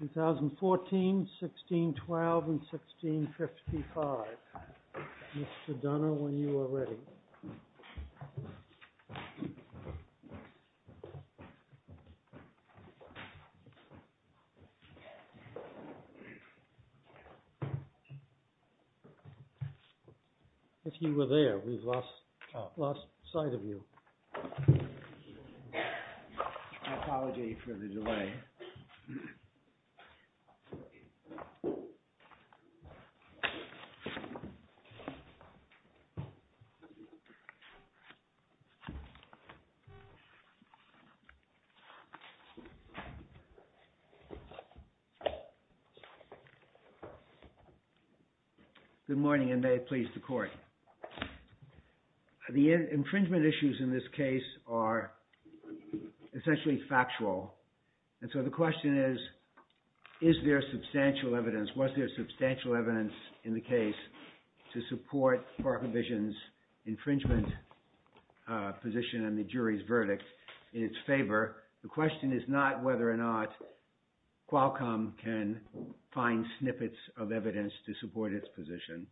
2014, 1612, and 1655, Mr. Dunner, when you are ready. If you were there, we've lost sight of you. My apologies for the delay. Good morning, and may it please the Court. The infringement issues in this case are essentially factual, and so the question is, is there substantial evidence, was there substantial evidence in the case to support ParkVision's infringement position and the jury's verdict in its favor? The question is not whether or not Qualcomm can find snippets of evidence to support its position.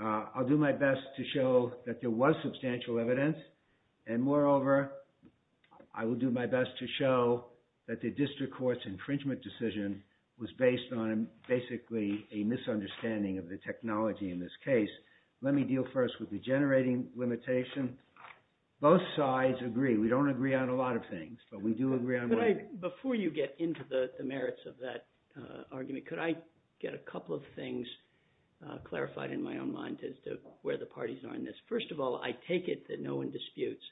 I'll do my best to show that there was substantial evidence, and moreover, I will do my best to show that the district court's infringement decision was based on basically a misunderstanding of the technology in this case. Let me deal first with the generating limitation. Both sides agree. We don't agree on a lot of things, but we do agree on one thing. Before you get into the merits of that argument, could I get a couple of things clarified in my own mind as to where the parties are in this? First of all, I take it that no one disputes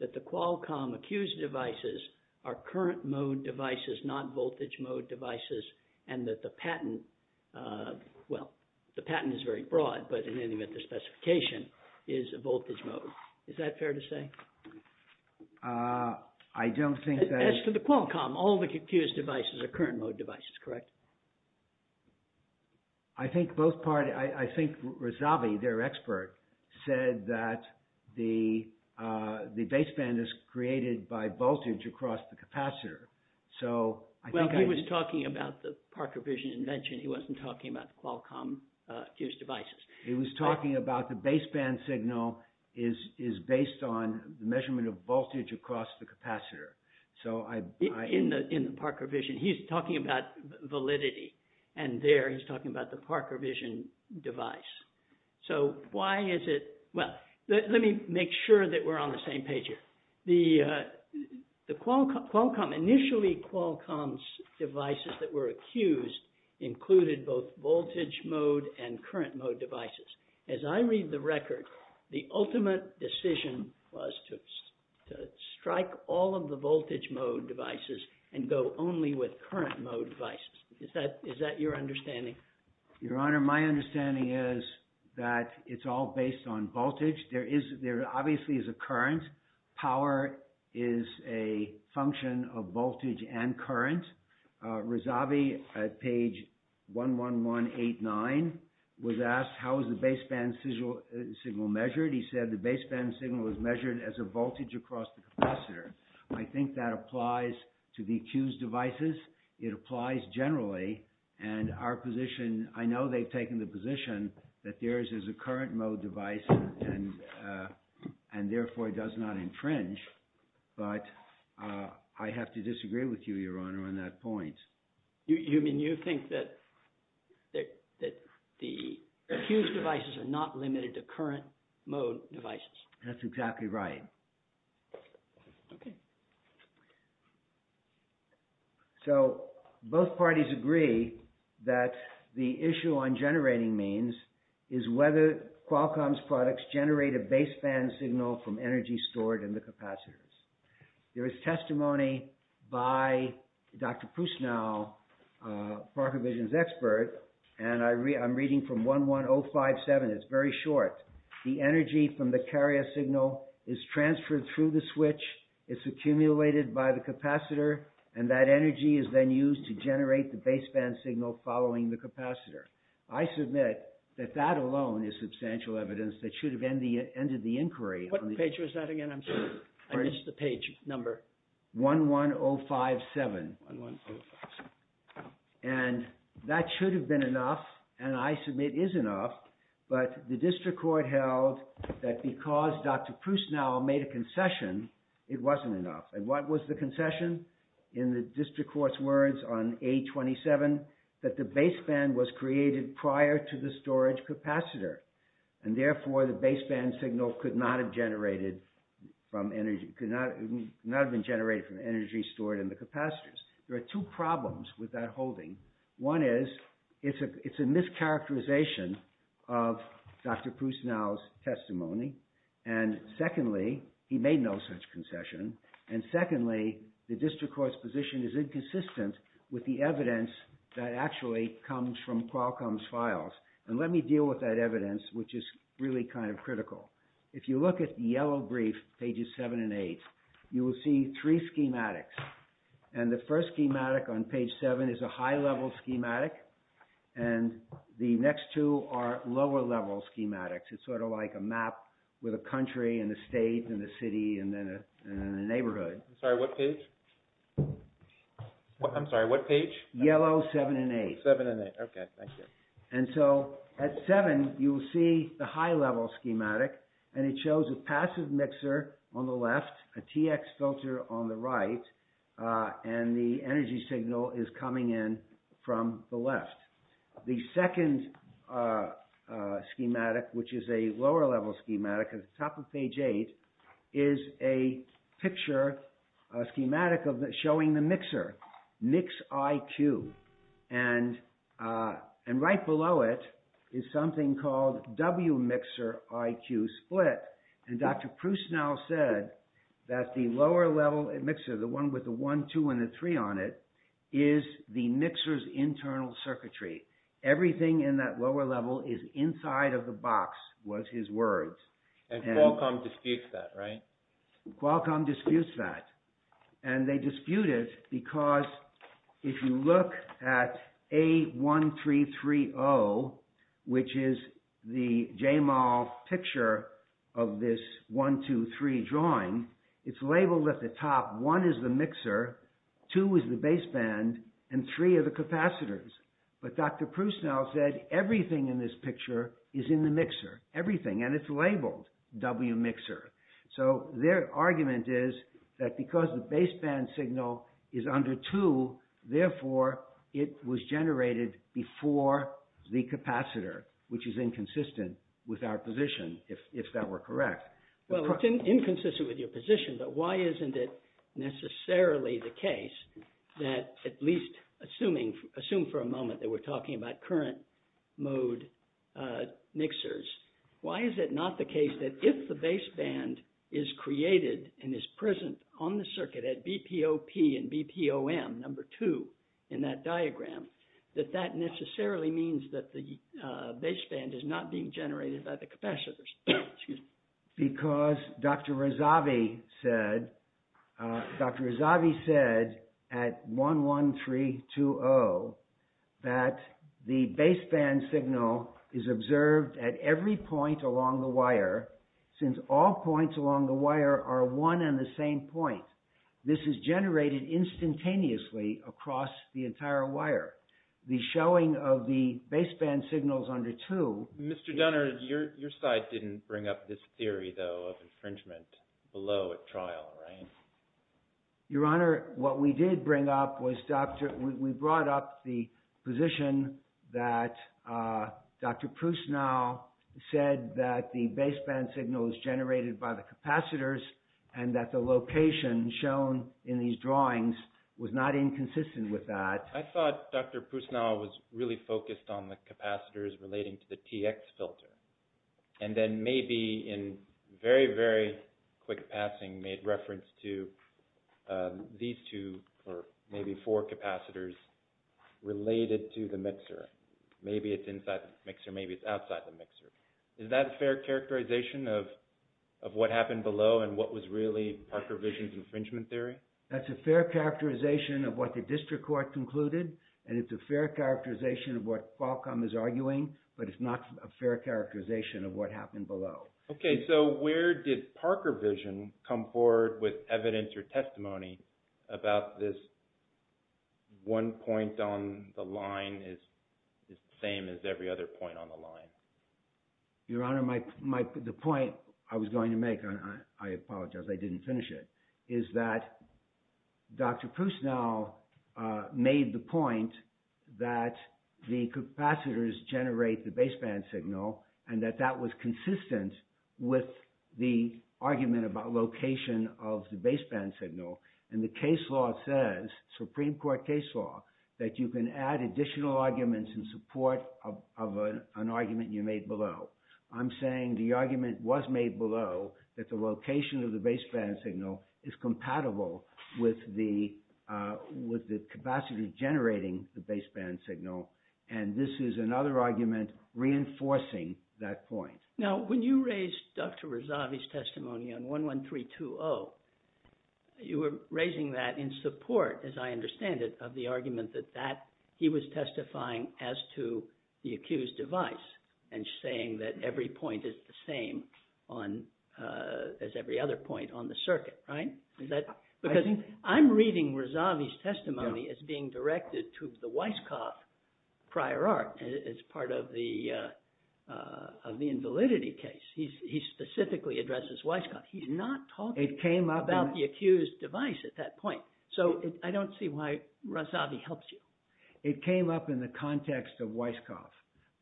that the Qualcomm accused devices are current-mode devices, not voltage-mode devices, and that the patent, well, the patent is very broad, but in any event, the specification is a voltage mode. Is that fair to say? I don't think that... As to the Qualcomm, all the accused devices are current-mode devices, correct? I think both parties, I think Razavi, their expert, said that the baseband is created by voltage across the capacitor, so... Well, he was talking about the Parker Vision invention. He wasn't talking about the Qualcomm accused devices. He was talking about the baseband signal is based on the measurement of voltage across the capacitor. In the Parker Vision, he's talking about validity, and there he's talking about the Parker Vision device. So why is it... Well, let me make sure that we're on the same page here. The Qualcomm... Initially, Qualcomm's devices that were accused included both voltage-mode and current-mode devices. As I read the record, the ultimate decision was to strike all of the voltage-mode devices and go only with current-mode devices. Is that your understanding? Your Honor, my understanding is that it's all based on voltage. There obviously is a current. Power is a function of voltage and current. Razavi, at page 11189, was asked, how is the baseband signal measured? He said the baseband signal is measured as a voltage across the capacitor. I think that applies to the accused devices. It applies generally, and our position... I know they've taken the position that theirs is a current-mode device and therefore it does not infringe, but I have to disagree with you, Your Honor, on that point. You mean you think that the accused devices are not limited to current-mode devices? That's exactly right. Okay. So, both parties agree that the issue on generating means is whether Qualcomm's products generate a baseband signal from energy stored in the capacitors. There is testimony by Dr. Prusnow, Parker Vision's expert, and I'm reading from 11057. It's very short. The energy from the carrier signal is transferred through the switch, it's accumulated by the capacitor, and that energy is then used to generate the baseband signal following the capacitor. I submit that that alone is substantial evidence that should have ended the inquiry. What page was that again? I missed the page number. 11057. And that should have been enough, and I submit is enough, but the district court held that because Dr. Prusnow made a concession, it wasn't enough. And what was the concession? In the district court's words on A27, that the baseband was created prior to the storage capacitor, and therefore the baseband signal could not have been generated from energy stored in the capacitors. There are two problems with that holding. One is, it's a mischaracterization of Dr. Prusnow's testimony, and secondly, he made no such concession, and secondly, the district court's position is inconsistent with the evidence that actually comes from Qualcomm's files. And let me deal with that evidence, which is really kind of critical. If you look at the yellow brief, pages 7 and 8, you will see three schematics. And the first schematic on page 7 is a high-level schematic, and the next two are lower-level schematics. It's sort of like a map with a country and a state and a city and then a neighborhood. I'm sorry, what page? I'm sorry, what page? Yellow, 7 and 8. 7 and 8, okay, thank you. And so, at 7, you will see the high-level schematic, and it shows a passive mixer on the left, a TX filter on the right, and the energy signal is coming in from the left. The second schematic, which is a lower-level schematic, at the top of page 8, is a picture, a schematic showing the mixer, Mix IQ. And right below it is something called W Mixer IQ Split. And Dr. Proust now said that the lower-level mixer, the one with the 1, 2, and the 3 on it, is the mixer's internal circuitry. Everything in that lower level is inside of the box, was his words. And Qualcomm disputes that, right? Qualcomm disputes that. And they dispute it because if you look at A1330, which is the JMOL picture of this 1, 2, 3 drawing, it's labeled at the top, 1 is the mixer, 2 is the baseband, and 3 are the capacitors. But Dr. Proust now said everything in this picture is in the mixer. Everything. And it's labeled W Mixer. So, their argument is that because the baseband signal is under 2, therefore, it was generated before the capacitor, which is inconsistent with our position, if that were correct. Well, it's inconsistent with your position, but why isn't it necessarily the case that, at least assume for a moment that we're talking about current-mode mixers, why is it not the case that if the baseband is created and is present on the circuit at BPOP and BPOM, number 2 in that diagram, that that necessarily means that the baseband is not being generated by the capacitors? Excuse me. Because Dr. Razavi said, Dr. Razavi said at 1, 1, 3, 2, 0 that the baseband signal is observed at every point along the wire, since all points along the wire are one and the same point. This is generated instantaneously across the entire wire. The showing of the baseband signals under 2... Mr. Dunner, your side didn't bring up this theory, though, of infringement below at trial, right? Your Honor, what we did bring up was we brought up the position that Dr. Prusnow said that the baseband signal is generated by the capacitors and that the location shown in these drawings was not inconsistent with that. I thought Dr. Prusnow was really focused on the capacitors relating to the TX filter. And then maybe in very, very quick passing made reference to these two or maybe four capacitors related to the mixer. Maybe it's inside the mixer, maybe it's outside the mixer. Is that a fair characterization of what happened below and what was really Parker Vision's infringement theory? That's a fair characterization of what the district court concluded and it's a fair characterization of what Qualcomm is arguing, but it's not a fair characterization of what happened below. Okay, so where did Parker Vision come forward with evidence or testimony about this one point on the line is the same as every other point on the line? Your Honor, the point I was going to make, I apologize, I didn't finish it, is that Dr. Prusnow made the point that the capacitors generate the baseband signal and that that was consistent with the argument about location of the baseband signal. And the case law says, Supreme Court case law, that you can add additional arguments in support of an argument you made below. I'm saying the argument was made below that the location of the baseband signal is compatible with the capacitors generating the baseband signal and this is another argument reinforcing that point. Now, when you raised Dr. Razavi's testimony on 11320, you were raising that in support, as I understand it, of the argument that he was testifying as to the accused device and saying that every point is the same as every other point on the circuit, right? Because I'm reading Razavi's testimony as being directed to the Weisskopf prior art as part of the invalidity case. He specifically addresses Weisskopf. He's not talking about the accused device at that point. So, I don't see why Razavi helps you. It came up in the context of Weisskopf,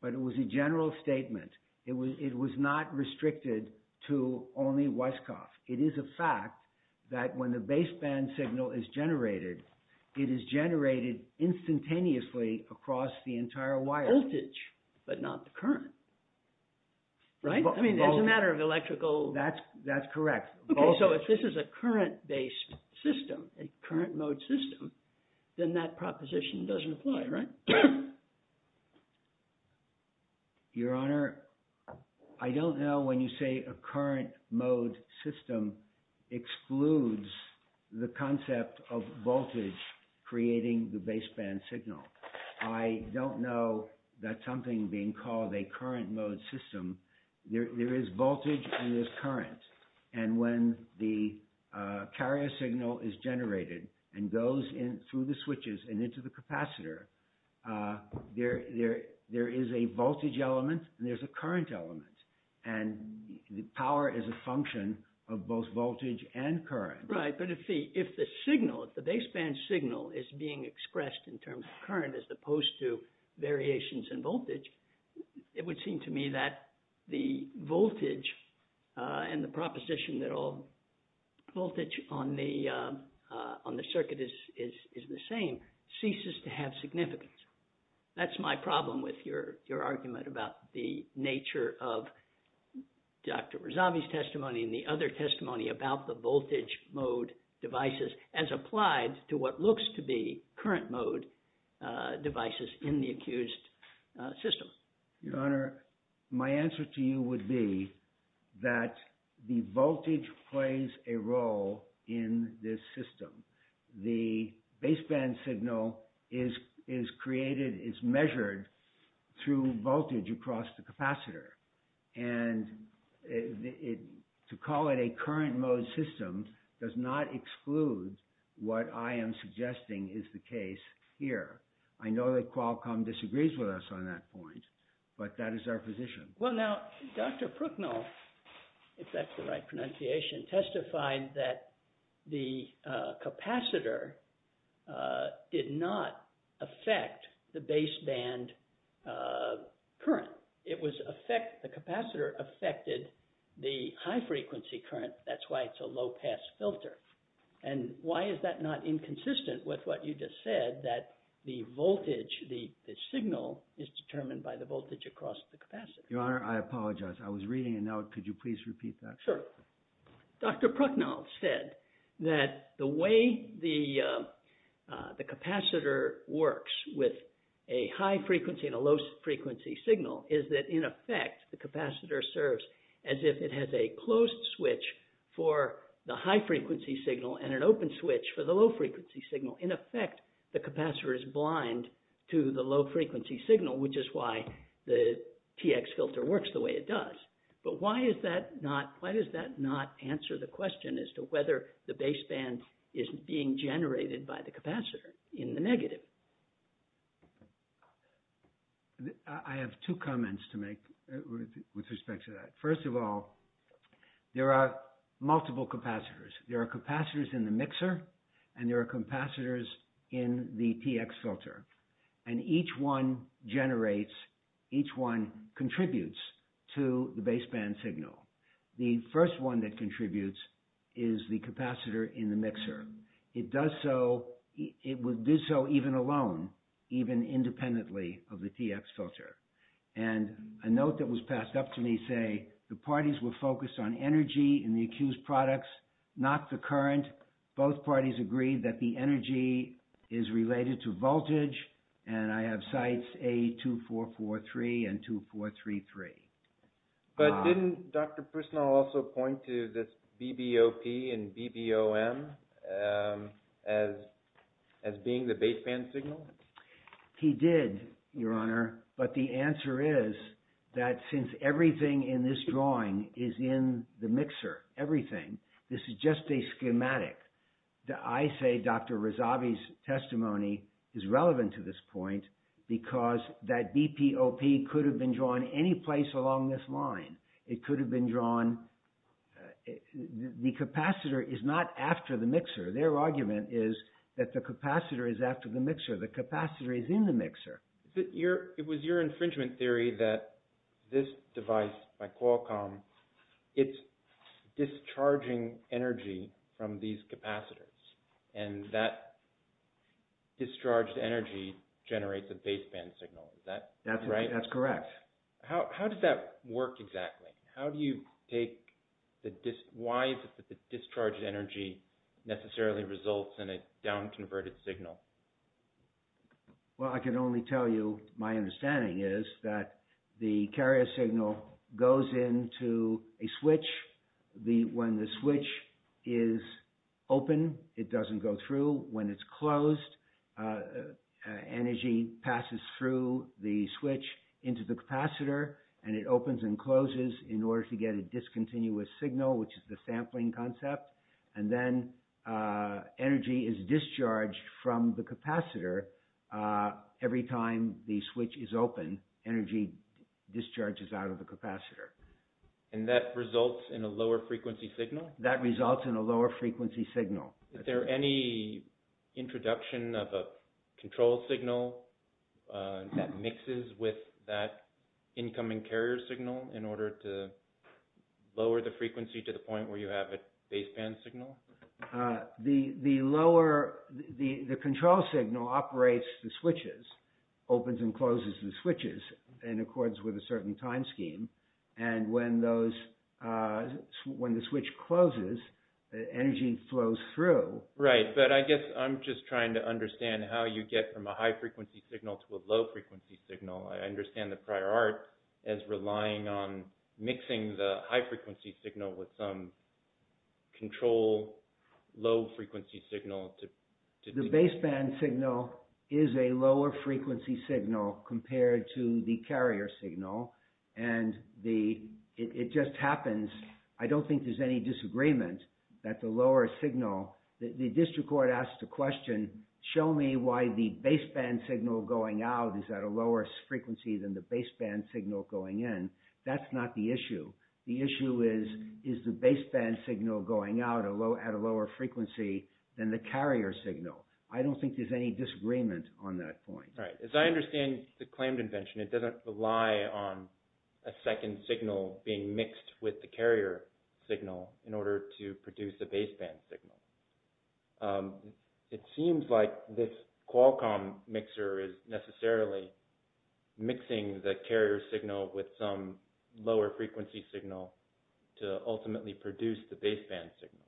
but it was a general statement. It was not restricted to only Weisskopf. It is a fact that when the baseband signal is generated, it is generated instantaneously across the entire wire. Voltage, but not the current. Right? I mean, it's a matter of electrical... That's correct. Okay, so if this is a current-based system, a current-mode system, then that proposition doesn't apply, right? Your Honor, I don't know when you say a current-mode system excludes the concept of voltage creating the baseband signal. I don't know that something being called a current-mode system, there is voltage and there's current. And when the carrier signal is generated and goes through the switches and into the capacitor, there is a voltage element and there's a current element. And the power is a function of both voltage and current. Right, but if the signal, if the baseband signal is being expressed in terms of current as opposed to variations in voltage, it would seem to me that the voltage and the proposition that all voltage on the circuit is the same ceases to have significance. That's my problem with your argument about the nature of Dr. Razavi's testimony and the other testimony about the voltage-mode devices as applied to what looks to be current-mode devices in the accused system. Your Honor, my answer to you would be that the voltage plays a role in this system. The baseband signal is created, is measured through voltage across the capacitor. And to call it a current-mode system does not exclude what I am suggesting is the case here. I know that Qualcomm disagrees with us on that point, but that is our position. Well, now, Dr. Prooknow, if that's the right pronunciation, testified that the capacitor did not affect the baseband current. The capacitor affected the high-frequency current. That's why it's a low-pass filter. And why is that not inconsistent with what you just said, that the voltage, the signal, is determined by the voltage across the capacitor? Your Honor, I apologize. I was reading it now. Could you please repeat that? Sure. Dr. Prooknow said that the way the capacitor works with a high-frequency and a low-frequency signal is that, in effect, the capacitor serves as if it has a closed switch for the high-frequency signal and an open switch for the low-frequency signal. In effect, the capacitor is blind to the low-frequency signal, which is why the TX filter works the way it does. But why is that not... Why does that not answer the question as to whether the baseband is being generated by the capacitor in the negative? I have two comments to make with respect to that. First of all, there are multiple capacitors. There are capacitors in the mixer, and there are capacitors in the TX filter. And each one generates... Each one contributes to the baseband signal. The first one that contributes is the capacitor in the mixer. It does so... It would do so even alone, even independently of the TX filter. And a note that was passed up to me say, the parties were focused on energy in the accused products, not the current. Both parties agreed that the energy is related to voltage, and I have sites A2443 and 2433. But didn't Dr. Prisnal also point to this BBOP and BBOM as being the baseband signal? He did, Your Honor. But the answer is that since everything in this drawing is in the mixer, everything, this is just a schematic. I say Dr. Razavi's testimony is relevant to this point because that BBOP could have been drawn any place along this line. It could have been drawn... The capacitor is not after the mixer. Their argument is that the capacitor is after the mixer. The capacitor is in the mixer. But it was your infringement theory that this device, my Qualcomm, it's discharging energy from these capacitors. And that discharged energy generates a baseband signal. Is that right? That's correct. How does that work exactly? How do you take the... Why does the discharged energy necessarily result in a down-converted signal? Well, I can only tell you my understanding is that the carrier signal goes into a switch. When the switch is open, it doesn't go through. When it's closed, energy passes through the switch into the capacitor and it opens and closes in order to get a discontinuous signal which is the sampling concept. And then energy is discharged from the capacitor every time the switch is open. Energy discharges out of the capacitor. And that results in a lower frequency signal? That results in a lower frequency signal. Is there any introduction of a control signal that mixes with that incoming carrier signal in order to lower the frequency to the point where you have a baseband signal? The lower... The control signal operates the switches, opens and closes the switches in accordance with a certain time scheme. And when those... When the switch closes, energy flows through. Right, but I guess I'm just trying to understand how you get from a high frequency signal to a low frequency signal. I understand the prior art as relying on mixing the high frequency signal with some control low frequency signal to... The baseband signal is a lower frequency signal compared to the carrier signal. And it just happens... I don't think there's any disagreement that the lower signal... The district court asked the question, show me why the baseband signal going out is at a lower frequency than the baseband signal going in. That's not the issue. The issue is, is the baseband signal going out at a lower frequency than the carrier signal? I don't think there's any disagreement on that point. Right. As I understand the claimed invention, it doesn't rely on a second signal being mixed with the carrier signal in order to produce a baseband signal. It seems like this Qualcomm mixer is necessarily mixing the carrier signal with some lower frequency signal to ultimately produce the baseband signal.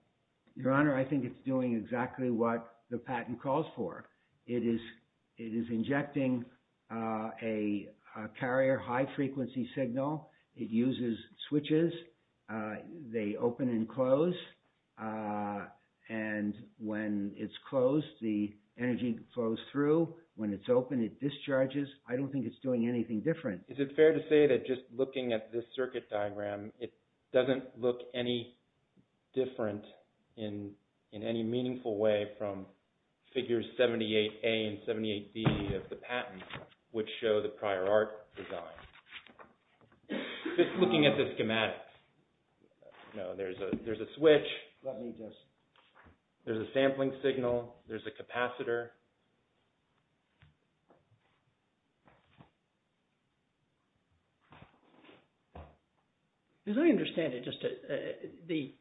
Your Honor, I think it's doing exactly what the patent calls for. It is injecting a carrier high frequency signal. It uses switches. They open and close. And when it's closed, the energy flows through. When it's open, it discharges. I don't think it's doing anything different. Is it fair to say that just looking at this circuit diagram, it doesn't look any different in any meaningful way from figures 78A and 78B of the patent which show the prior art design? Just looking at the schematics. There's a switch. There's a sampling signal. There's a capacitor. As I understand it,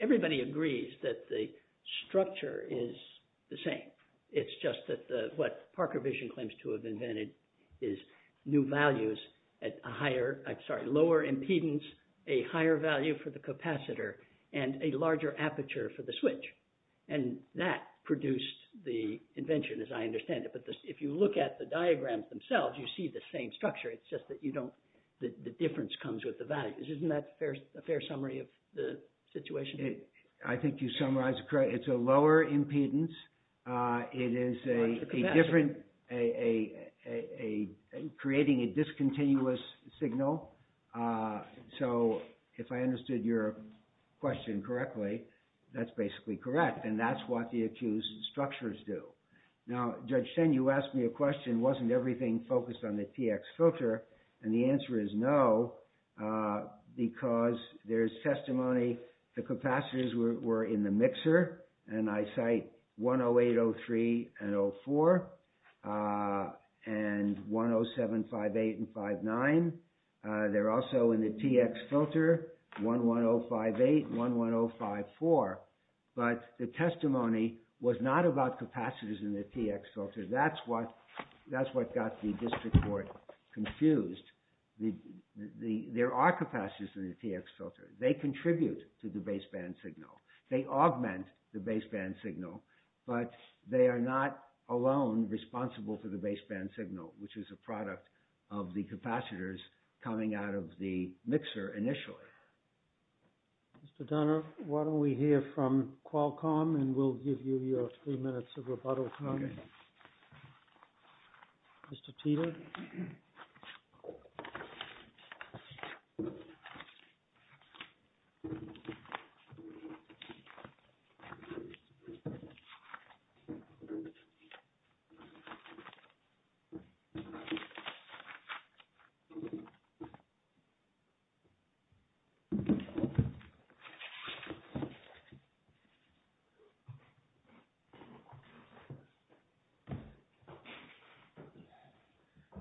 everybody agrees that the structure is the same. It's just that what Parker Vision claims to have invented is new values at a lower impedance, a higher value for the capacitor, and a larger aperture for the switch. And that produced the invention, as I understand it. But if you look at the diagrams themselves, you see the same structure. It's just that the difference comes with the values. Isn't that a fair summary of the situation? I think you summarized it correctly. It's a lower impedance. It is a different... creating a discontinuous signal. So, if I understood your question correctly, that's basically correct. And that's what the accused structures do. Now, Judge Shen, you asked me a question, wasn't everything focused on the TX filter? And the answer is no because there's testimony the capacitors were in the mixer, and I cite 108, 03, and 04, and 107, 58, and 59. They're also in the TX filter, 11058, 11054. But the testimony was not about capacitors in the TX filter. That's what got the district court confused. There are capacitors in the TX filter. They contribute to the baseband signal. They augment the baseband signal, but they are not alone responsible for the baseband signal, which is a product of the capacitors coming out of the mixer initially. Mr. Donner, why don't we hear from Qualcomm, and we'll give you your three minutes of rebuttal time. All right. Mr. Teter.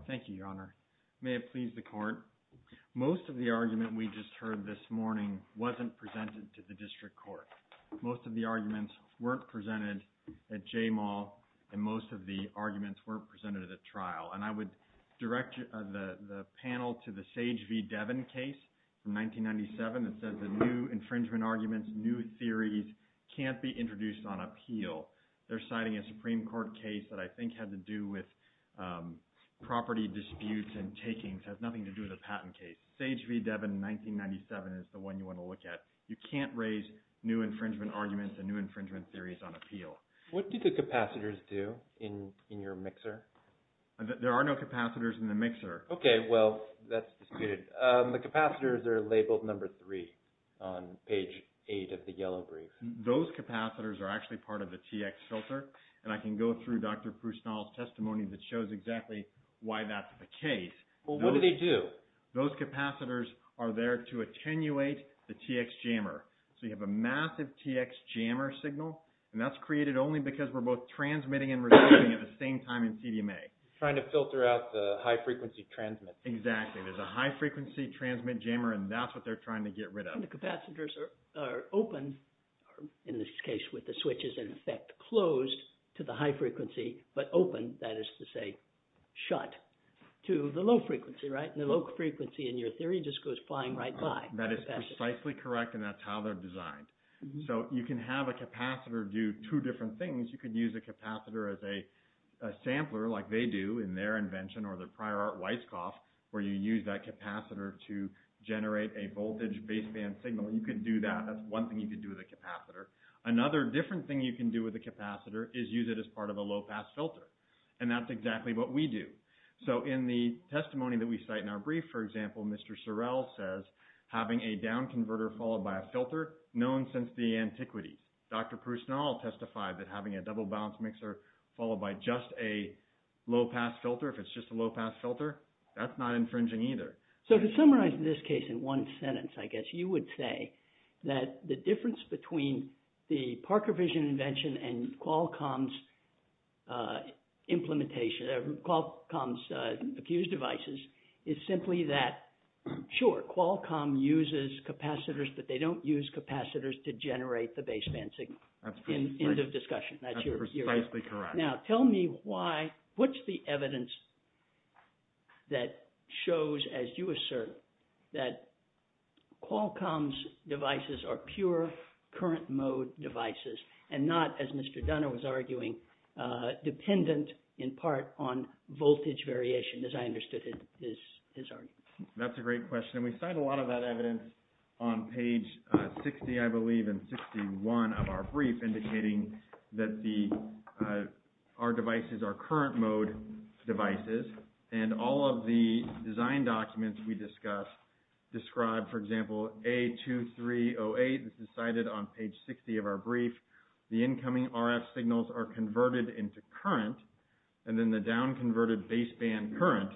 Thank you, Your Honor. May it please the court. Most of the argument we just heard this morning wasn't presented to the district court. Most of the arguments weren't presented at J-Mall, and most of the arguments weren't presented at trial. And I would direct the panel to the Sage v. Devin case from 1997 that says the new infringement arguments, new theories can't be introduced on appeal. They're citing a Supreme Court case that I think had to do with property disputes and takings. It has nothing to do with a patent case. Sage v. Devin, 1997, is the one you want to look at. You can't raise new infringement arguments and new infringement theories on appeal. What do the capacitors do in your mixer? There are no capacitors in the mixer. Okay, well, that's disputed. The capacitors are labeled number three on page eight of the yellow brief. Those capacitors are actually part of the TX filter, and I can go through Dr. Prusnall's testimony that shows exactly why that's the case. Well, what do they do? Those capacitors are there to attenuate the TX jammer. So you have a massive TX jammer signal, and that's created only because we're both transmitting and receiving at the same time in CDMA. Trying to filter out the high-frequency transmit. Exactly. There's a high-frequency transmit jammer, and that's what they're trying to get rid of. When the capacitors are open, in this case with the switches in effect closed to the high-frequency, but open, that is to say, shut to the low-frequency, right? And the low-frequency, in your theory, just goes flying right by. That is precisely correct, and that's how they're designed. So you can have a capacitor do two different things. You could use a capacitor as a sampler, like they do in their invention or their prior art Weisskopf, where you use that capacitor to generate a voltage baseband signal. You could do that. That's one thing you could do with a capacitor. Another different thing you can do with a capacitor is use it as part of a low-pass filter, and that's exactly what we do. So in the testimony that we cite in our brief, for example, Mr. Sorrell says, having a down converter followed by a filter, known since the antiquity. Dr. Prusnall testified that having a double-balanced mixer followed by just a low-pass filter, if it's just a low-pass filter, that's not infringing either. So to summarize this case in one sentence, I guess you would say that the difference between the Parker Vision invention and Qualcomm's accused devices is simply that, sure, Qualcomm uses capacitors, but they don't use capacitors to generate the baseband signal. That's precisely correct. End of discussion. That's precisely correct. Now tell me why, what's the evidence that shows, as you assert, that Qualcomm's devices are pure current-mode devices and not, as Mr. Dunner was arguing, dependent in part on voltage variation, as I understood his argument. That's a great question, and we cite a lot of that evidence on page 60, I believe, and 61 of our brief, indicating that our devices are current-mode devices, and all of the design documents we discussed describe, for example, A2308. This is cited on page 60 of our brief. The incoming RF signals are converted into current, and then the down-converted baseband current,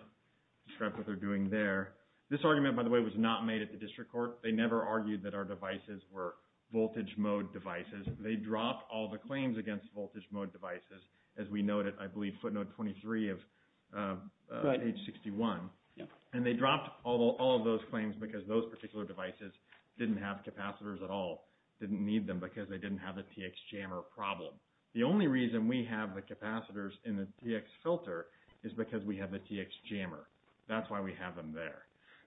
describe what they're doing there. This argument, by the way, was not made at the district court. They never argued that our devices were voltage-mode devices. They dropped all the claims against voltage-mode devices, as we noted, I believe, footnote 23 of page 61, and they dropped all of those claims because those particular devices didn't have capacitors at all, didn't need them, because they didn't have the TX jammer problem. The only reason we have the capacitors in the TX filter is because we have the TX jammer. That's why we have them there.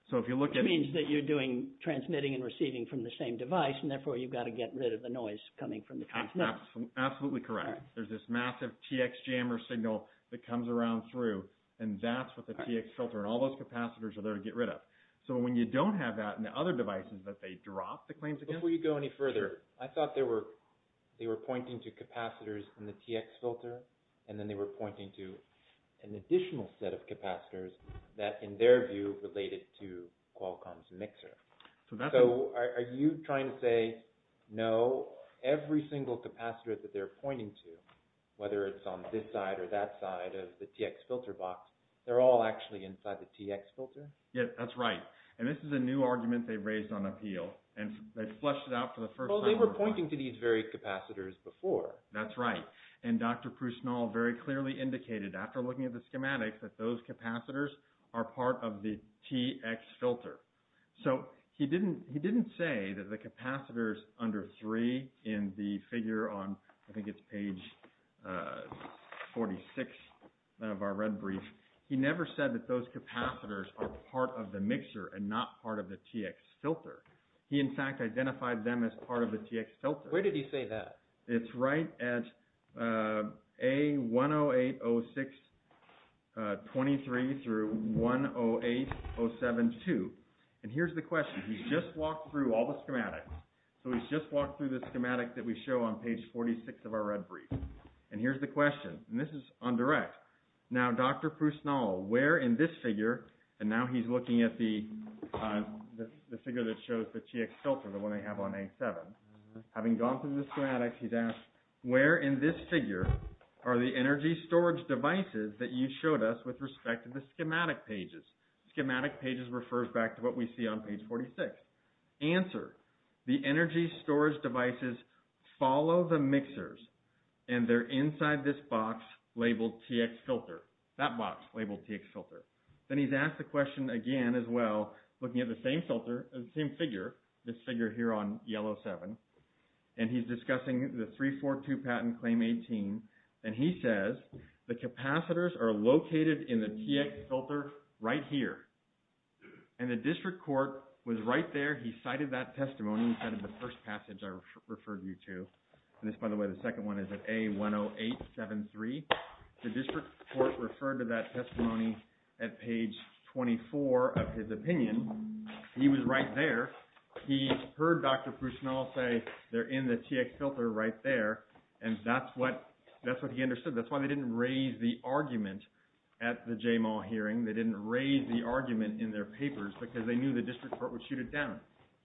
So if you look at... It means that you're doing, transmitting and receiving from the same device, and therefore you've got to get rid of the noise coming from the transmission. Absolutely correct. There's this massive TX jammer signal that comes around through, and that's what the TX filter, and all those capacitors are there to get rid of. So when you don't have that in the other devices that they drop the claims against... Before you go any further, I thought they were pointing to capacitors in the TX filter, and then they were pointing to an additional set of capacitors that, in their view, related to Qualcomm's mixer. So are you trying to say, no, every single capacitor that they're pointing to, whether it's on this side or that side of the TX filter box, they're all actually inside the TX filter? Yes, that's right. And this is a new argument they raised on appeal, and they flushed it out for the first time... Well, they were pointing to these very capacitors before. That's right. And Dr. Prusnall very clearly indicated, after looking at the schematics, that those capacitors are part of the TX filter. So he didn't say that the capacitors under 3 in the figure on... I think it's page 46 of our red brief. He never said that those capacitors are part of the mixer and not part of the TX filter. He, in fact, identified them as part of the TX filter. Where did he say that? It's right at A1080623-108072. And here's the question. He's just walked through all the schematics. So he's just walked through the schematic that we show on page 46 of our red brief. And here's the question. And this is on direct. Now, Dr. Prusnall, where in this figure... And now he's looking at the figure that shows the TX filter, the one they have on A7. Having gone through the schematics, he's asked, where in this figure are the energy storage devices that you showed us with respect to the schematic pages? Schematic pages refers back to what we see on page 46. Answer, the energy storage devices follow the mixers, and they're inside this box labeled TX filter, that box labeled TX filter. Then he's asked the question again as well, looking at the same filter, the same figure, this figure here on yellow 7. And he's discussing the 342 patent claim 18. And he says, the capacitors are located in the TX filter right here. And the district court was right there. He cited that testimony inside of the first passage I referred you to. And this, by the way, the second one is at A10873. The district court referred to that testimony at page 24 of his opinion. He was right there. He heard Dr. Prusnell say they're in the TX filter right there. And that's what he understood. That's why they didn't raise the argument at the J-Mall hearing. They didn't raise the argument in their papers because they knew the district court would shoot it down.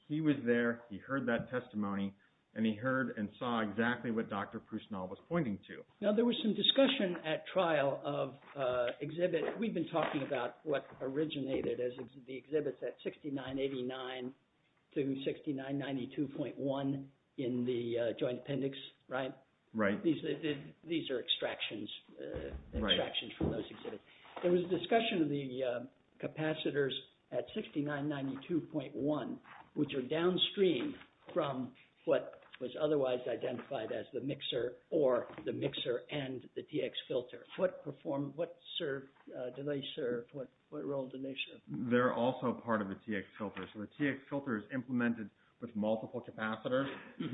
He was there. He heard that testimony. And he heard and saw exactly what Dr. Prusnell was pointing to. Now, there was some discussion at trial of exhibit. We've been talking about what originated as the exhibits at 6989 to 6992.1 in the joint appendix, right? Right. These are extractions from those exhibits. There was a discussion of the capacitors at 6992.1, which are downstream from what was otherwise identified as the mixer or the mixer and the TX filter. What role did they serve? They're also part of the TX filter. So the TX filter is implemented with multiple capacitors.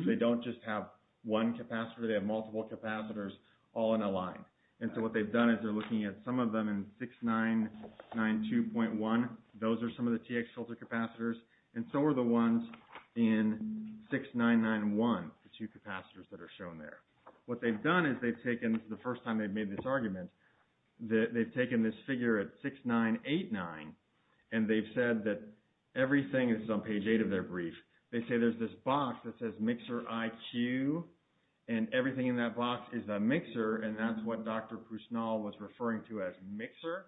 They don't just have one capacitor. They have multiple capacitors all in a line. And so what they've done is they're looking at some of them in 6992.1. Those are some of the TX filter capacitors, and so are the ones in 6991, the two capacitors that are shown there. What they've done is they've taken, the first time they've made this argument, they've taken this figure at 6989, and they've said that everything is on page 8 of their brief. They say there's this box that says Mixer IQ, and everything in that box is a mixer, and that's what Dr. Prusnell was referring to as mixer.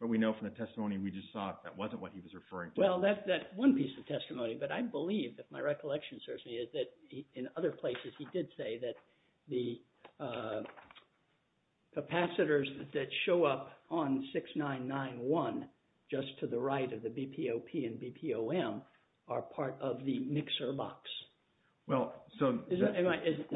But we know from the testimony we just saw that wasn't what he was referring to. Well, that's one piece of testimony. But I believe, if my recollection serves me, that in other places he did say that the capacitors that show up on 6991, just to the right of the BPOP and BPOM, are part of the mixer box. Well, so… Is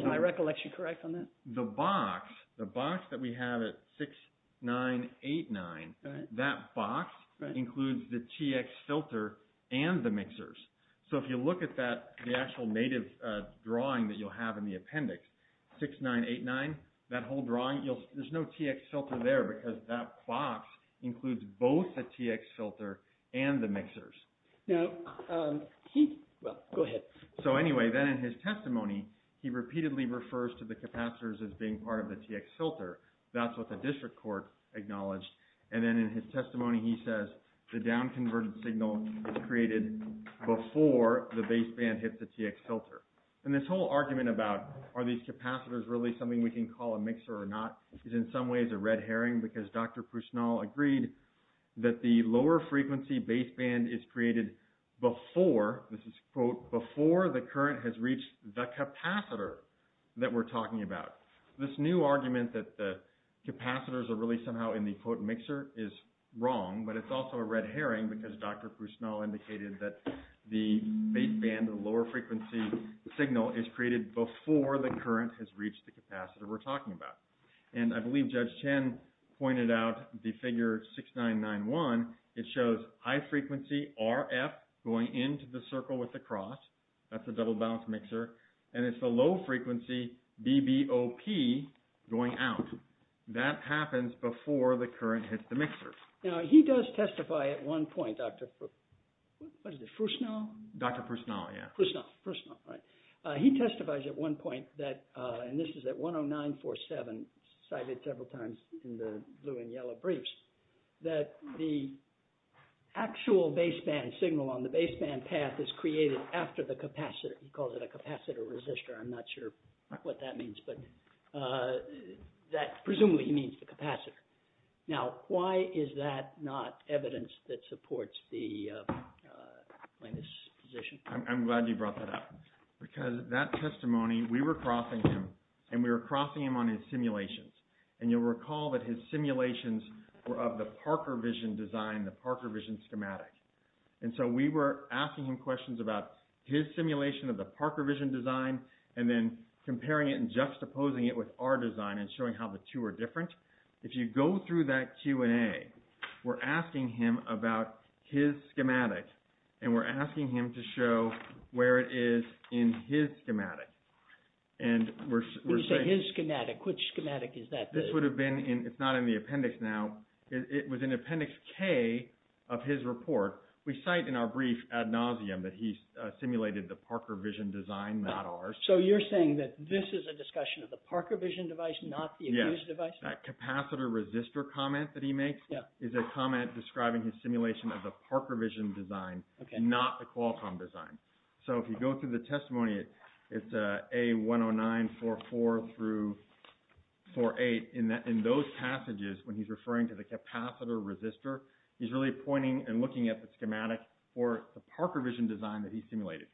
my recollection correct on that? The box, the box that we have at 6989, that box includes the TX filter and the mixers. So if you look at that, the actual native drawing that you'll have in the appendix, 6989, that whole drawing, there's no TX filter there because that box includes both the TX filter and the mixers. Now, he, well, go ahead. So anyway, then in his testimony, he repeatedly refers to the capacitors as being part of the TX filter. That's what the district court acknowledged. And then in his testimony he says, the down-converted signal is created before the baseband hits the TX filter. And this whole argument about, are these capacitors really something we can call a mixer or not, is in some ways a red herring because Dr. Pushnal agreed that the lower frequency baseband is created before, this is, quote, before the current has reached the capacitor that we're talking about. This new argument that the capacitors are really somehow in the, quote, mixer is wrong, but it's also a red herring because Dr. Pushnal indicated that the baseband, the lower frequency signal, is created before the current has reached the capacitor we're talking about. And I believe Judge Chen pointed out the figure 6991. It shows high frequency RF going into the circle with the cross. That's a double-balanced mixer. And it's a low frequency BBOP going out. That happens before the current hits the mixer. Now, he does testify at one point, Dr. Pushnal? Dr. Pushnal, yeah. Pushnal, right. He testifies at one point that, and this is at 10947, cited several times in the blue and yellow briefs, that the actual baseband signal on the baseband path is created after the capacitor. He calls it a capacitor resistor. I'm not sure what that means, but presumably he means the capacitor. Now, why is that not evidence that supports the plaintiff's position? I'm glad you brought that up. Because that testimony, we were crossing him, and we were crossing him on his simulations. And you'll recall that his simulations were of the Parker vision design, the Parker vision schematic. And so we were asking him questions about his simulation of the Parker vision design and then comparing it and juxtaposing it with our design and showing how the two are different. If you go through that Q&A, we're asking him about his schematic, and we're asking him to show where it is in his schematic. When you say his schematic, which schematic is that? It's not in the appendix now. It was in appendix K of his report. We cite in our brief ad nauseum that he simulated the Parker vision design, not ours. So you're saying that this is a discussion of the Parker vision device, not the accused device? Yes. That capacitor resistor comment that he makes is a comment describing his simulation of the Parker vision design, not the Qualcomm design. So if you go through the testimony, it's A10944 through 48. In those passages, when he's referring to the capacitor resistor, he's really pointing and looking at the schematic for the Parker vision design that he simulated.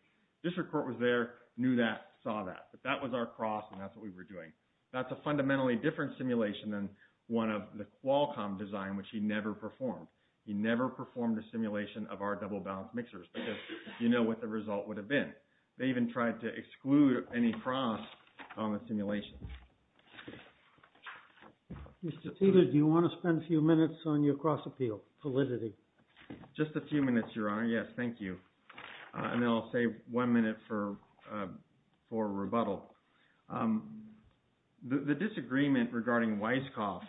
District court was there, knew that, saw that. But that was our cross, and that's what we were doing. That's a fundamentally different simulation than one of the Qualcomm design, which he never performed. He never performed a simulation of our double balanced mixers because you know what the result would have been. They even tried to exclude any cross on the simulation. Mr. Teter, do you want to spend a few minutes on your cross appeal validity? Just a few minutes, Your Honor. Yes, thank you. And then I'll save one minute for rebuttal. The disagreement regarding Weisskopf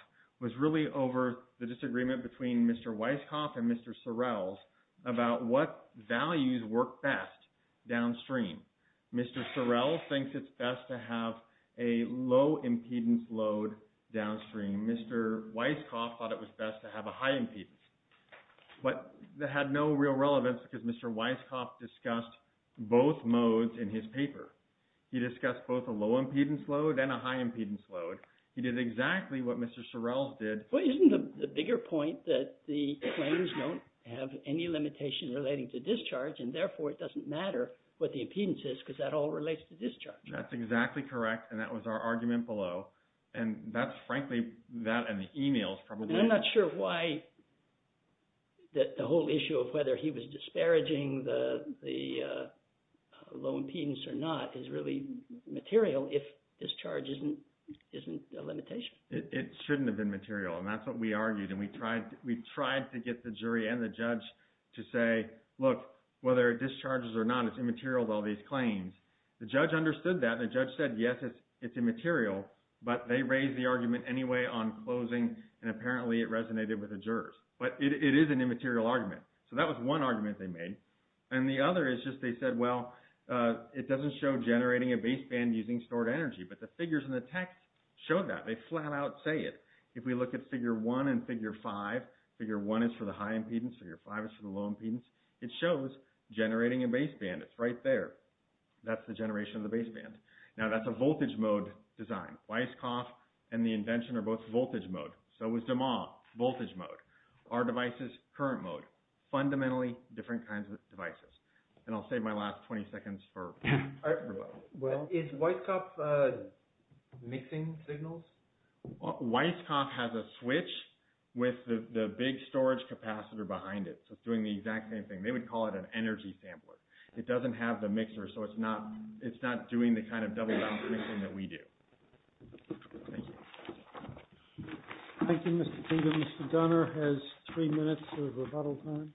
was really over the disagreement between Mr. Weisskopf and Mr. Sorrells about what values work best downstream. Mr. Sorrell thinks it's best to have a low impedance load downstream. Mr. Weisskopf thought it was best to have a high impedance. But that had no real relevance because Mr. Weisskopf discussed both modes in his paper. He discussed both a low impedance load and a high impedance load. He did exactly what Mr. Sorrells did. Well, isn't the bigger point that the claims don't have any limitation relating to discharge, and therefore it doesn't matter what the impedance is because that all relates to discharge. That's exactly correct, and that was our argument below. And that's frankly that and the emails probably. And I'm not sure why the whole issue of whether he was disparaging the low impedance or not is really material if discharge isn't a limitation. It shouldn't have been material, and that's what we argued. And we tried to get the jury and the judge to say, look, whether it discharges or not, it's immaterial to all these claims. The judge understood that, and the judge said, yes, it's immaterial, but they raised the argument anyway on closing, and apparently it resonated with the jurors. But it is an immaterial argument. So that was one argument they made. And the other is just they said, well, it doesn't show generating a baseband using stored energy, but the figures in the text show that. They flat out say it. If we look at figure one and figure five, figure one is for the high impedance, figure five is for the low impedance. It shows generating a baseband. It's right there. That's the generation of the baseband. Now, that's a voltage mode design. Weisskopf and the invention are both voltage mode. So is DeMaul, voltage mode. Our device is current mode. Fundamentally, different kinds of devices. And I'll save my last 20 seconds for everybody. Well, is Weisskopf mixing signals? Weisskopf has a switch with the big storage capacitor behind it, so it's doing the exact same thing. They would call it an energy sampler. It doesn't have the mixer, so it's not doing the kind of double-bouncing thing that we do. Thank you. Thank you, Mr. Tinker. Mr. Gunner has three minutes of rebuttal time.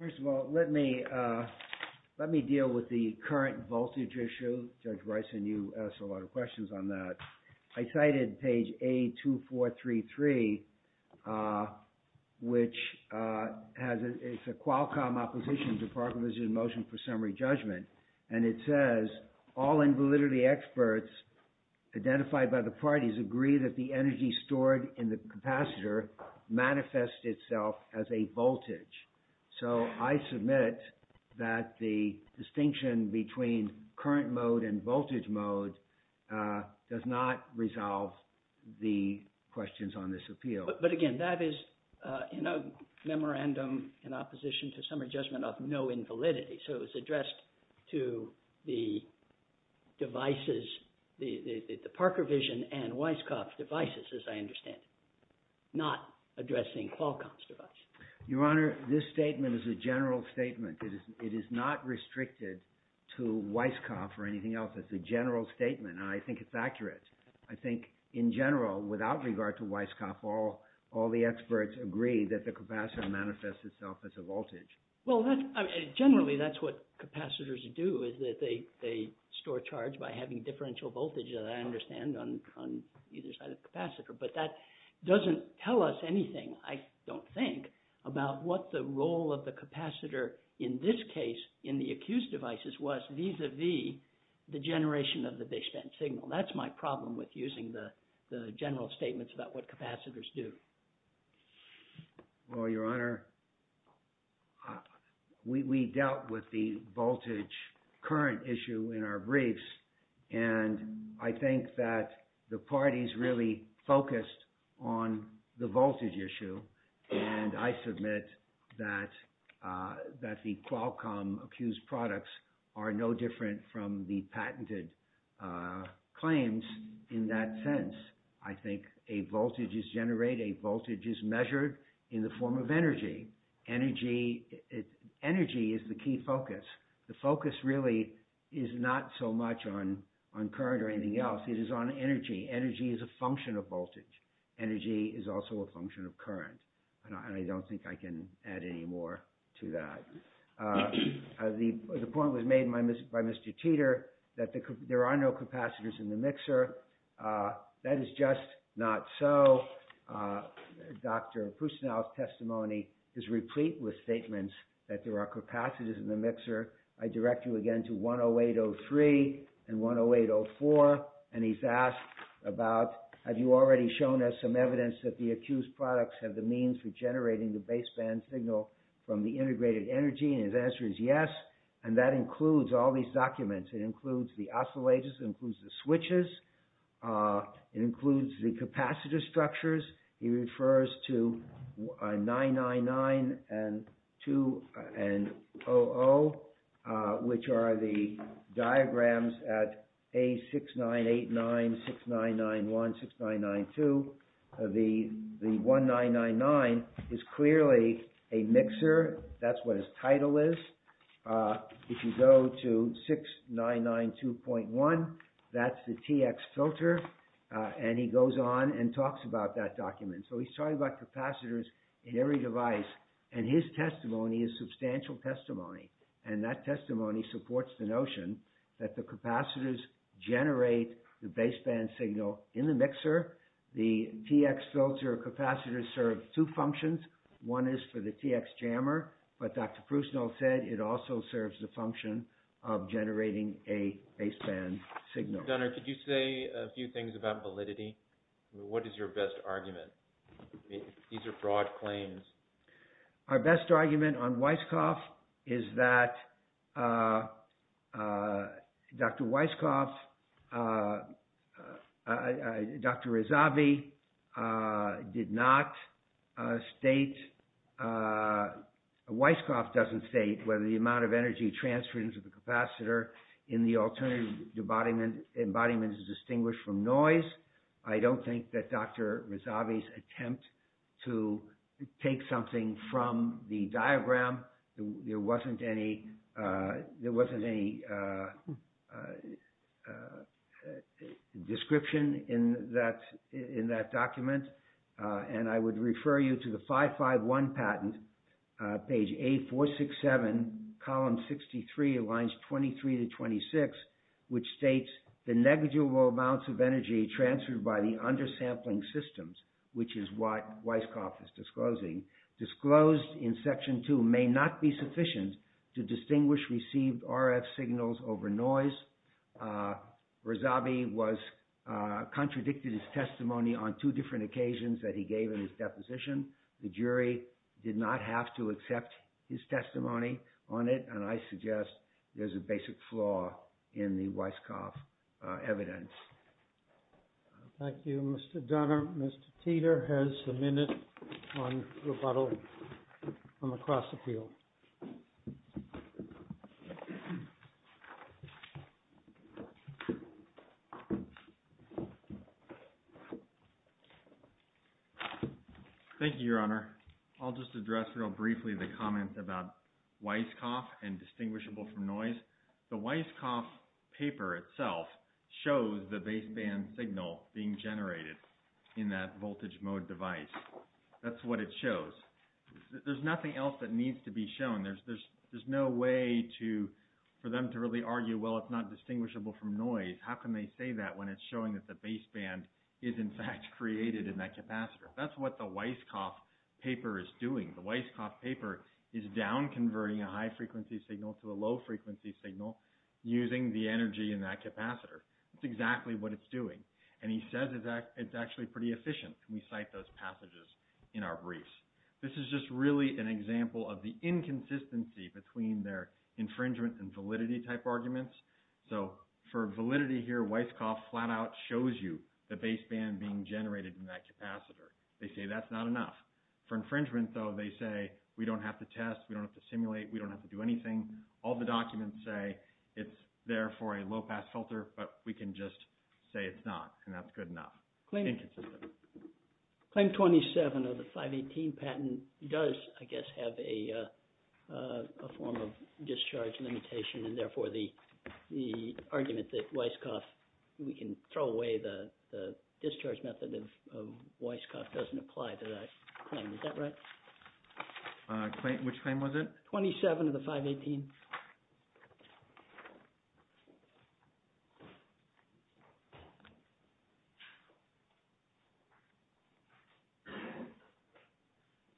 First of all, let me deal with the current voltage issue. Judge Weiss and you asked a lot of questions on that. I cited page A2433, which is a Qualcomm opposition to the Department of Vision and Motion for Summary Judgment. And it says, all invalidity experts identified by the parties agree that the energy stored in the capacitor manifests itself as a voltage. So I submit that the distinction between current mode and voltage mode does not resolve the questions on this appeal. But again, that is in a memorandum in opposition to summary judgment of no invalidity. So it's addressed to the devices, the Parker Vision and Weisskopf devices, as I understand it, not addressing Qualcomm's device. Your Honor, this statement is a general statement. It is not restricted to Weisskopf or anything else. It's a general statement, and I think it's accurate. I think in general, without regard to Weisskopf, all the experts agree that the capacitor manifests itself as a voltage. Well, generally that's what capacitors do, is that they store charge by having differential voltage, as I understand, on either side of the capacitor. But that doesn't tell us anything, I don't think, about what the role of the capacitor in this case, in the accused devices, was vis-à-vis the generation of the baseband signal. That's my problem with using the general statements about what capacitors do. Well, Your Honor, we dealt with the voltage current issue in our briefs, and I think that the parties really focused on the voltage issue. And I submit that the Qualcomm accused products are no different from the patented claims in that sense. I think a voltage is generated, a voltage is measured in the form of energy. Energy is the key focus. The focus really is not so much on current or anything else. It is on energy. Energy is a function of voltage. Energy is also a function of current. And I don't think I can add any more to that. The point was made by Mr. Teeter, that there are no capacitors in the mixer. That is just not so. Dr. Pustinow's testimony is replete with statements that there are capacitors in the mixer. I direct you again to 108-03 and 108-04. And he's asked about, have you already shown us some evidence that the accused products have the means for generating the baseband signal from the integrated energy? And his answer is yes. And that includes all these documents. It includes the oscillators. It includes the switches. It includes the capacitor structures. He refers to 999 and 2 and 00, which are the diagrams at A6989, 6991, 6992. The 1999 is clearly a mixer. That's what his title is. If you go to 6992.1, that's the TX filter. And he goes on and talks about that document. So he's talking about capacitors in every device. And his testimony is substantial testimony. And that testimony supports the notion that the capacitors generate the baseband signal in the mixer. The TX filter capacitors serve two functions. One is for the TX jammer. But Dr. Pustinow said it also serves the function of generating a baseband signal. Dr. Dunner, could you say a few things about validity? What is your best argument? These are broad claims. Our best argument on Weisskopf is that Dr. Weisskopf, Dr. Rezavi did not state, Weisskopf doesn't state whether the amount of energy transferred into the capacitor in the alternative embodiment is distinguished from noise. I don't think that Dr. Rezavi's attempt to take something from the diagram, there wasn't any description in that document. And I would refer you to the 551 patent, page A467, column 63, lines 23 to 26, which states the negligible amounts of energy transferred by the undersampling systems, which is what Weisskopf is disclosing, disclosed in section two may not be sufficient to distinguish received RF signals over noise. Rezavi contradicted his testimony on two different occasions that he gave in his deposition. The jury did not have to accept his testimony on it, and I suggest there's a basic flaw in the Weisskopf evidence. Thank you, Mr. Dunner. Mr. Teeter has a minute on rebuttal from across the field. Thank you, Your Honor. I'll just address real briefly the comments about Weisskopf and distinguishable from noise. The Weisskopf paper itself shows the baseband signal being generated in that voltage mode device. That's what it shows. There's nothing else that needs to be shown. There's no way for them to really argue, well, it's not distinguishable from noise. How can they say that when it's showing that the baseband is, in fact, created in that capacitor? That's what the Weisskopf paper is doing. The Weisskopf paper is down-converting a high-frequency signal to a low-frequency signal using the energy in that capacitor. That's exactly what it's doing, and he says it's actually pretty efficient. We cite those passages in our briefs. This is just really an example of the inconsistency between their infringement and validity-type arguments. So for validity here, Weisskopf flat-out shows you the baseband being generated in that capacitor. They say that's not enough. For infringement, though, they say we don't have to test, we don't have to simulate, we don't have to do anything. All the documents say it's there for a low-pass filter, but we can just say it's not, and that's good enough. It's inconsistent. Claim 27 of the 518 patent does, I guess, have a form of discharge limitation, and therefore the argument that Weisskopf – we can throw away the discharge method of Weisskopf doesn't apply to that claim. Is that right? Which claim was it? 27 of the 518.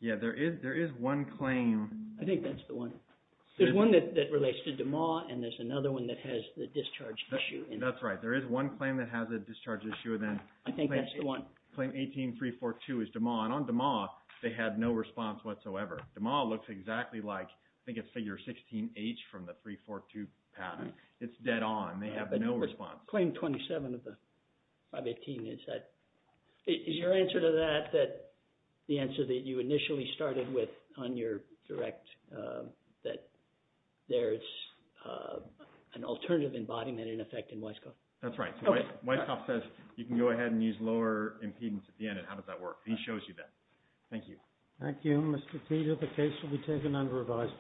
Yeah, there is one claim. I think that's the one. There's one that relates to DeMauw, and there's another one that has the discharge issue. That's right. There is one claim that has a discharge issue, and then – I think that's the one. Claim 18342 is DeMauw, and on DeMauw, they had no response whatsoever. DeMauw looks exactly like – I think it's figure 16H from the 342 patent. It's dead on. They have no response. Claim 27 of the 518, is that – is your answer to that that the answer that you initially started with on your direct, that there is an alternative embodiment in effect in Weisskopf? That's right. Weisskopf says you can go ahead and use lower impedance at the end, and how does that work? He shows you that. Thank you. Thank you. Mr. Teeter, the case will be taken under revisal.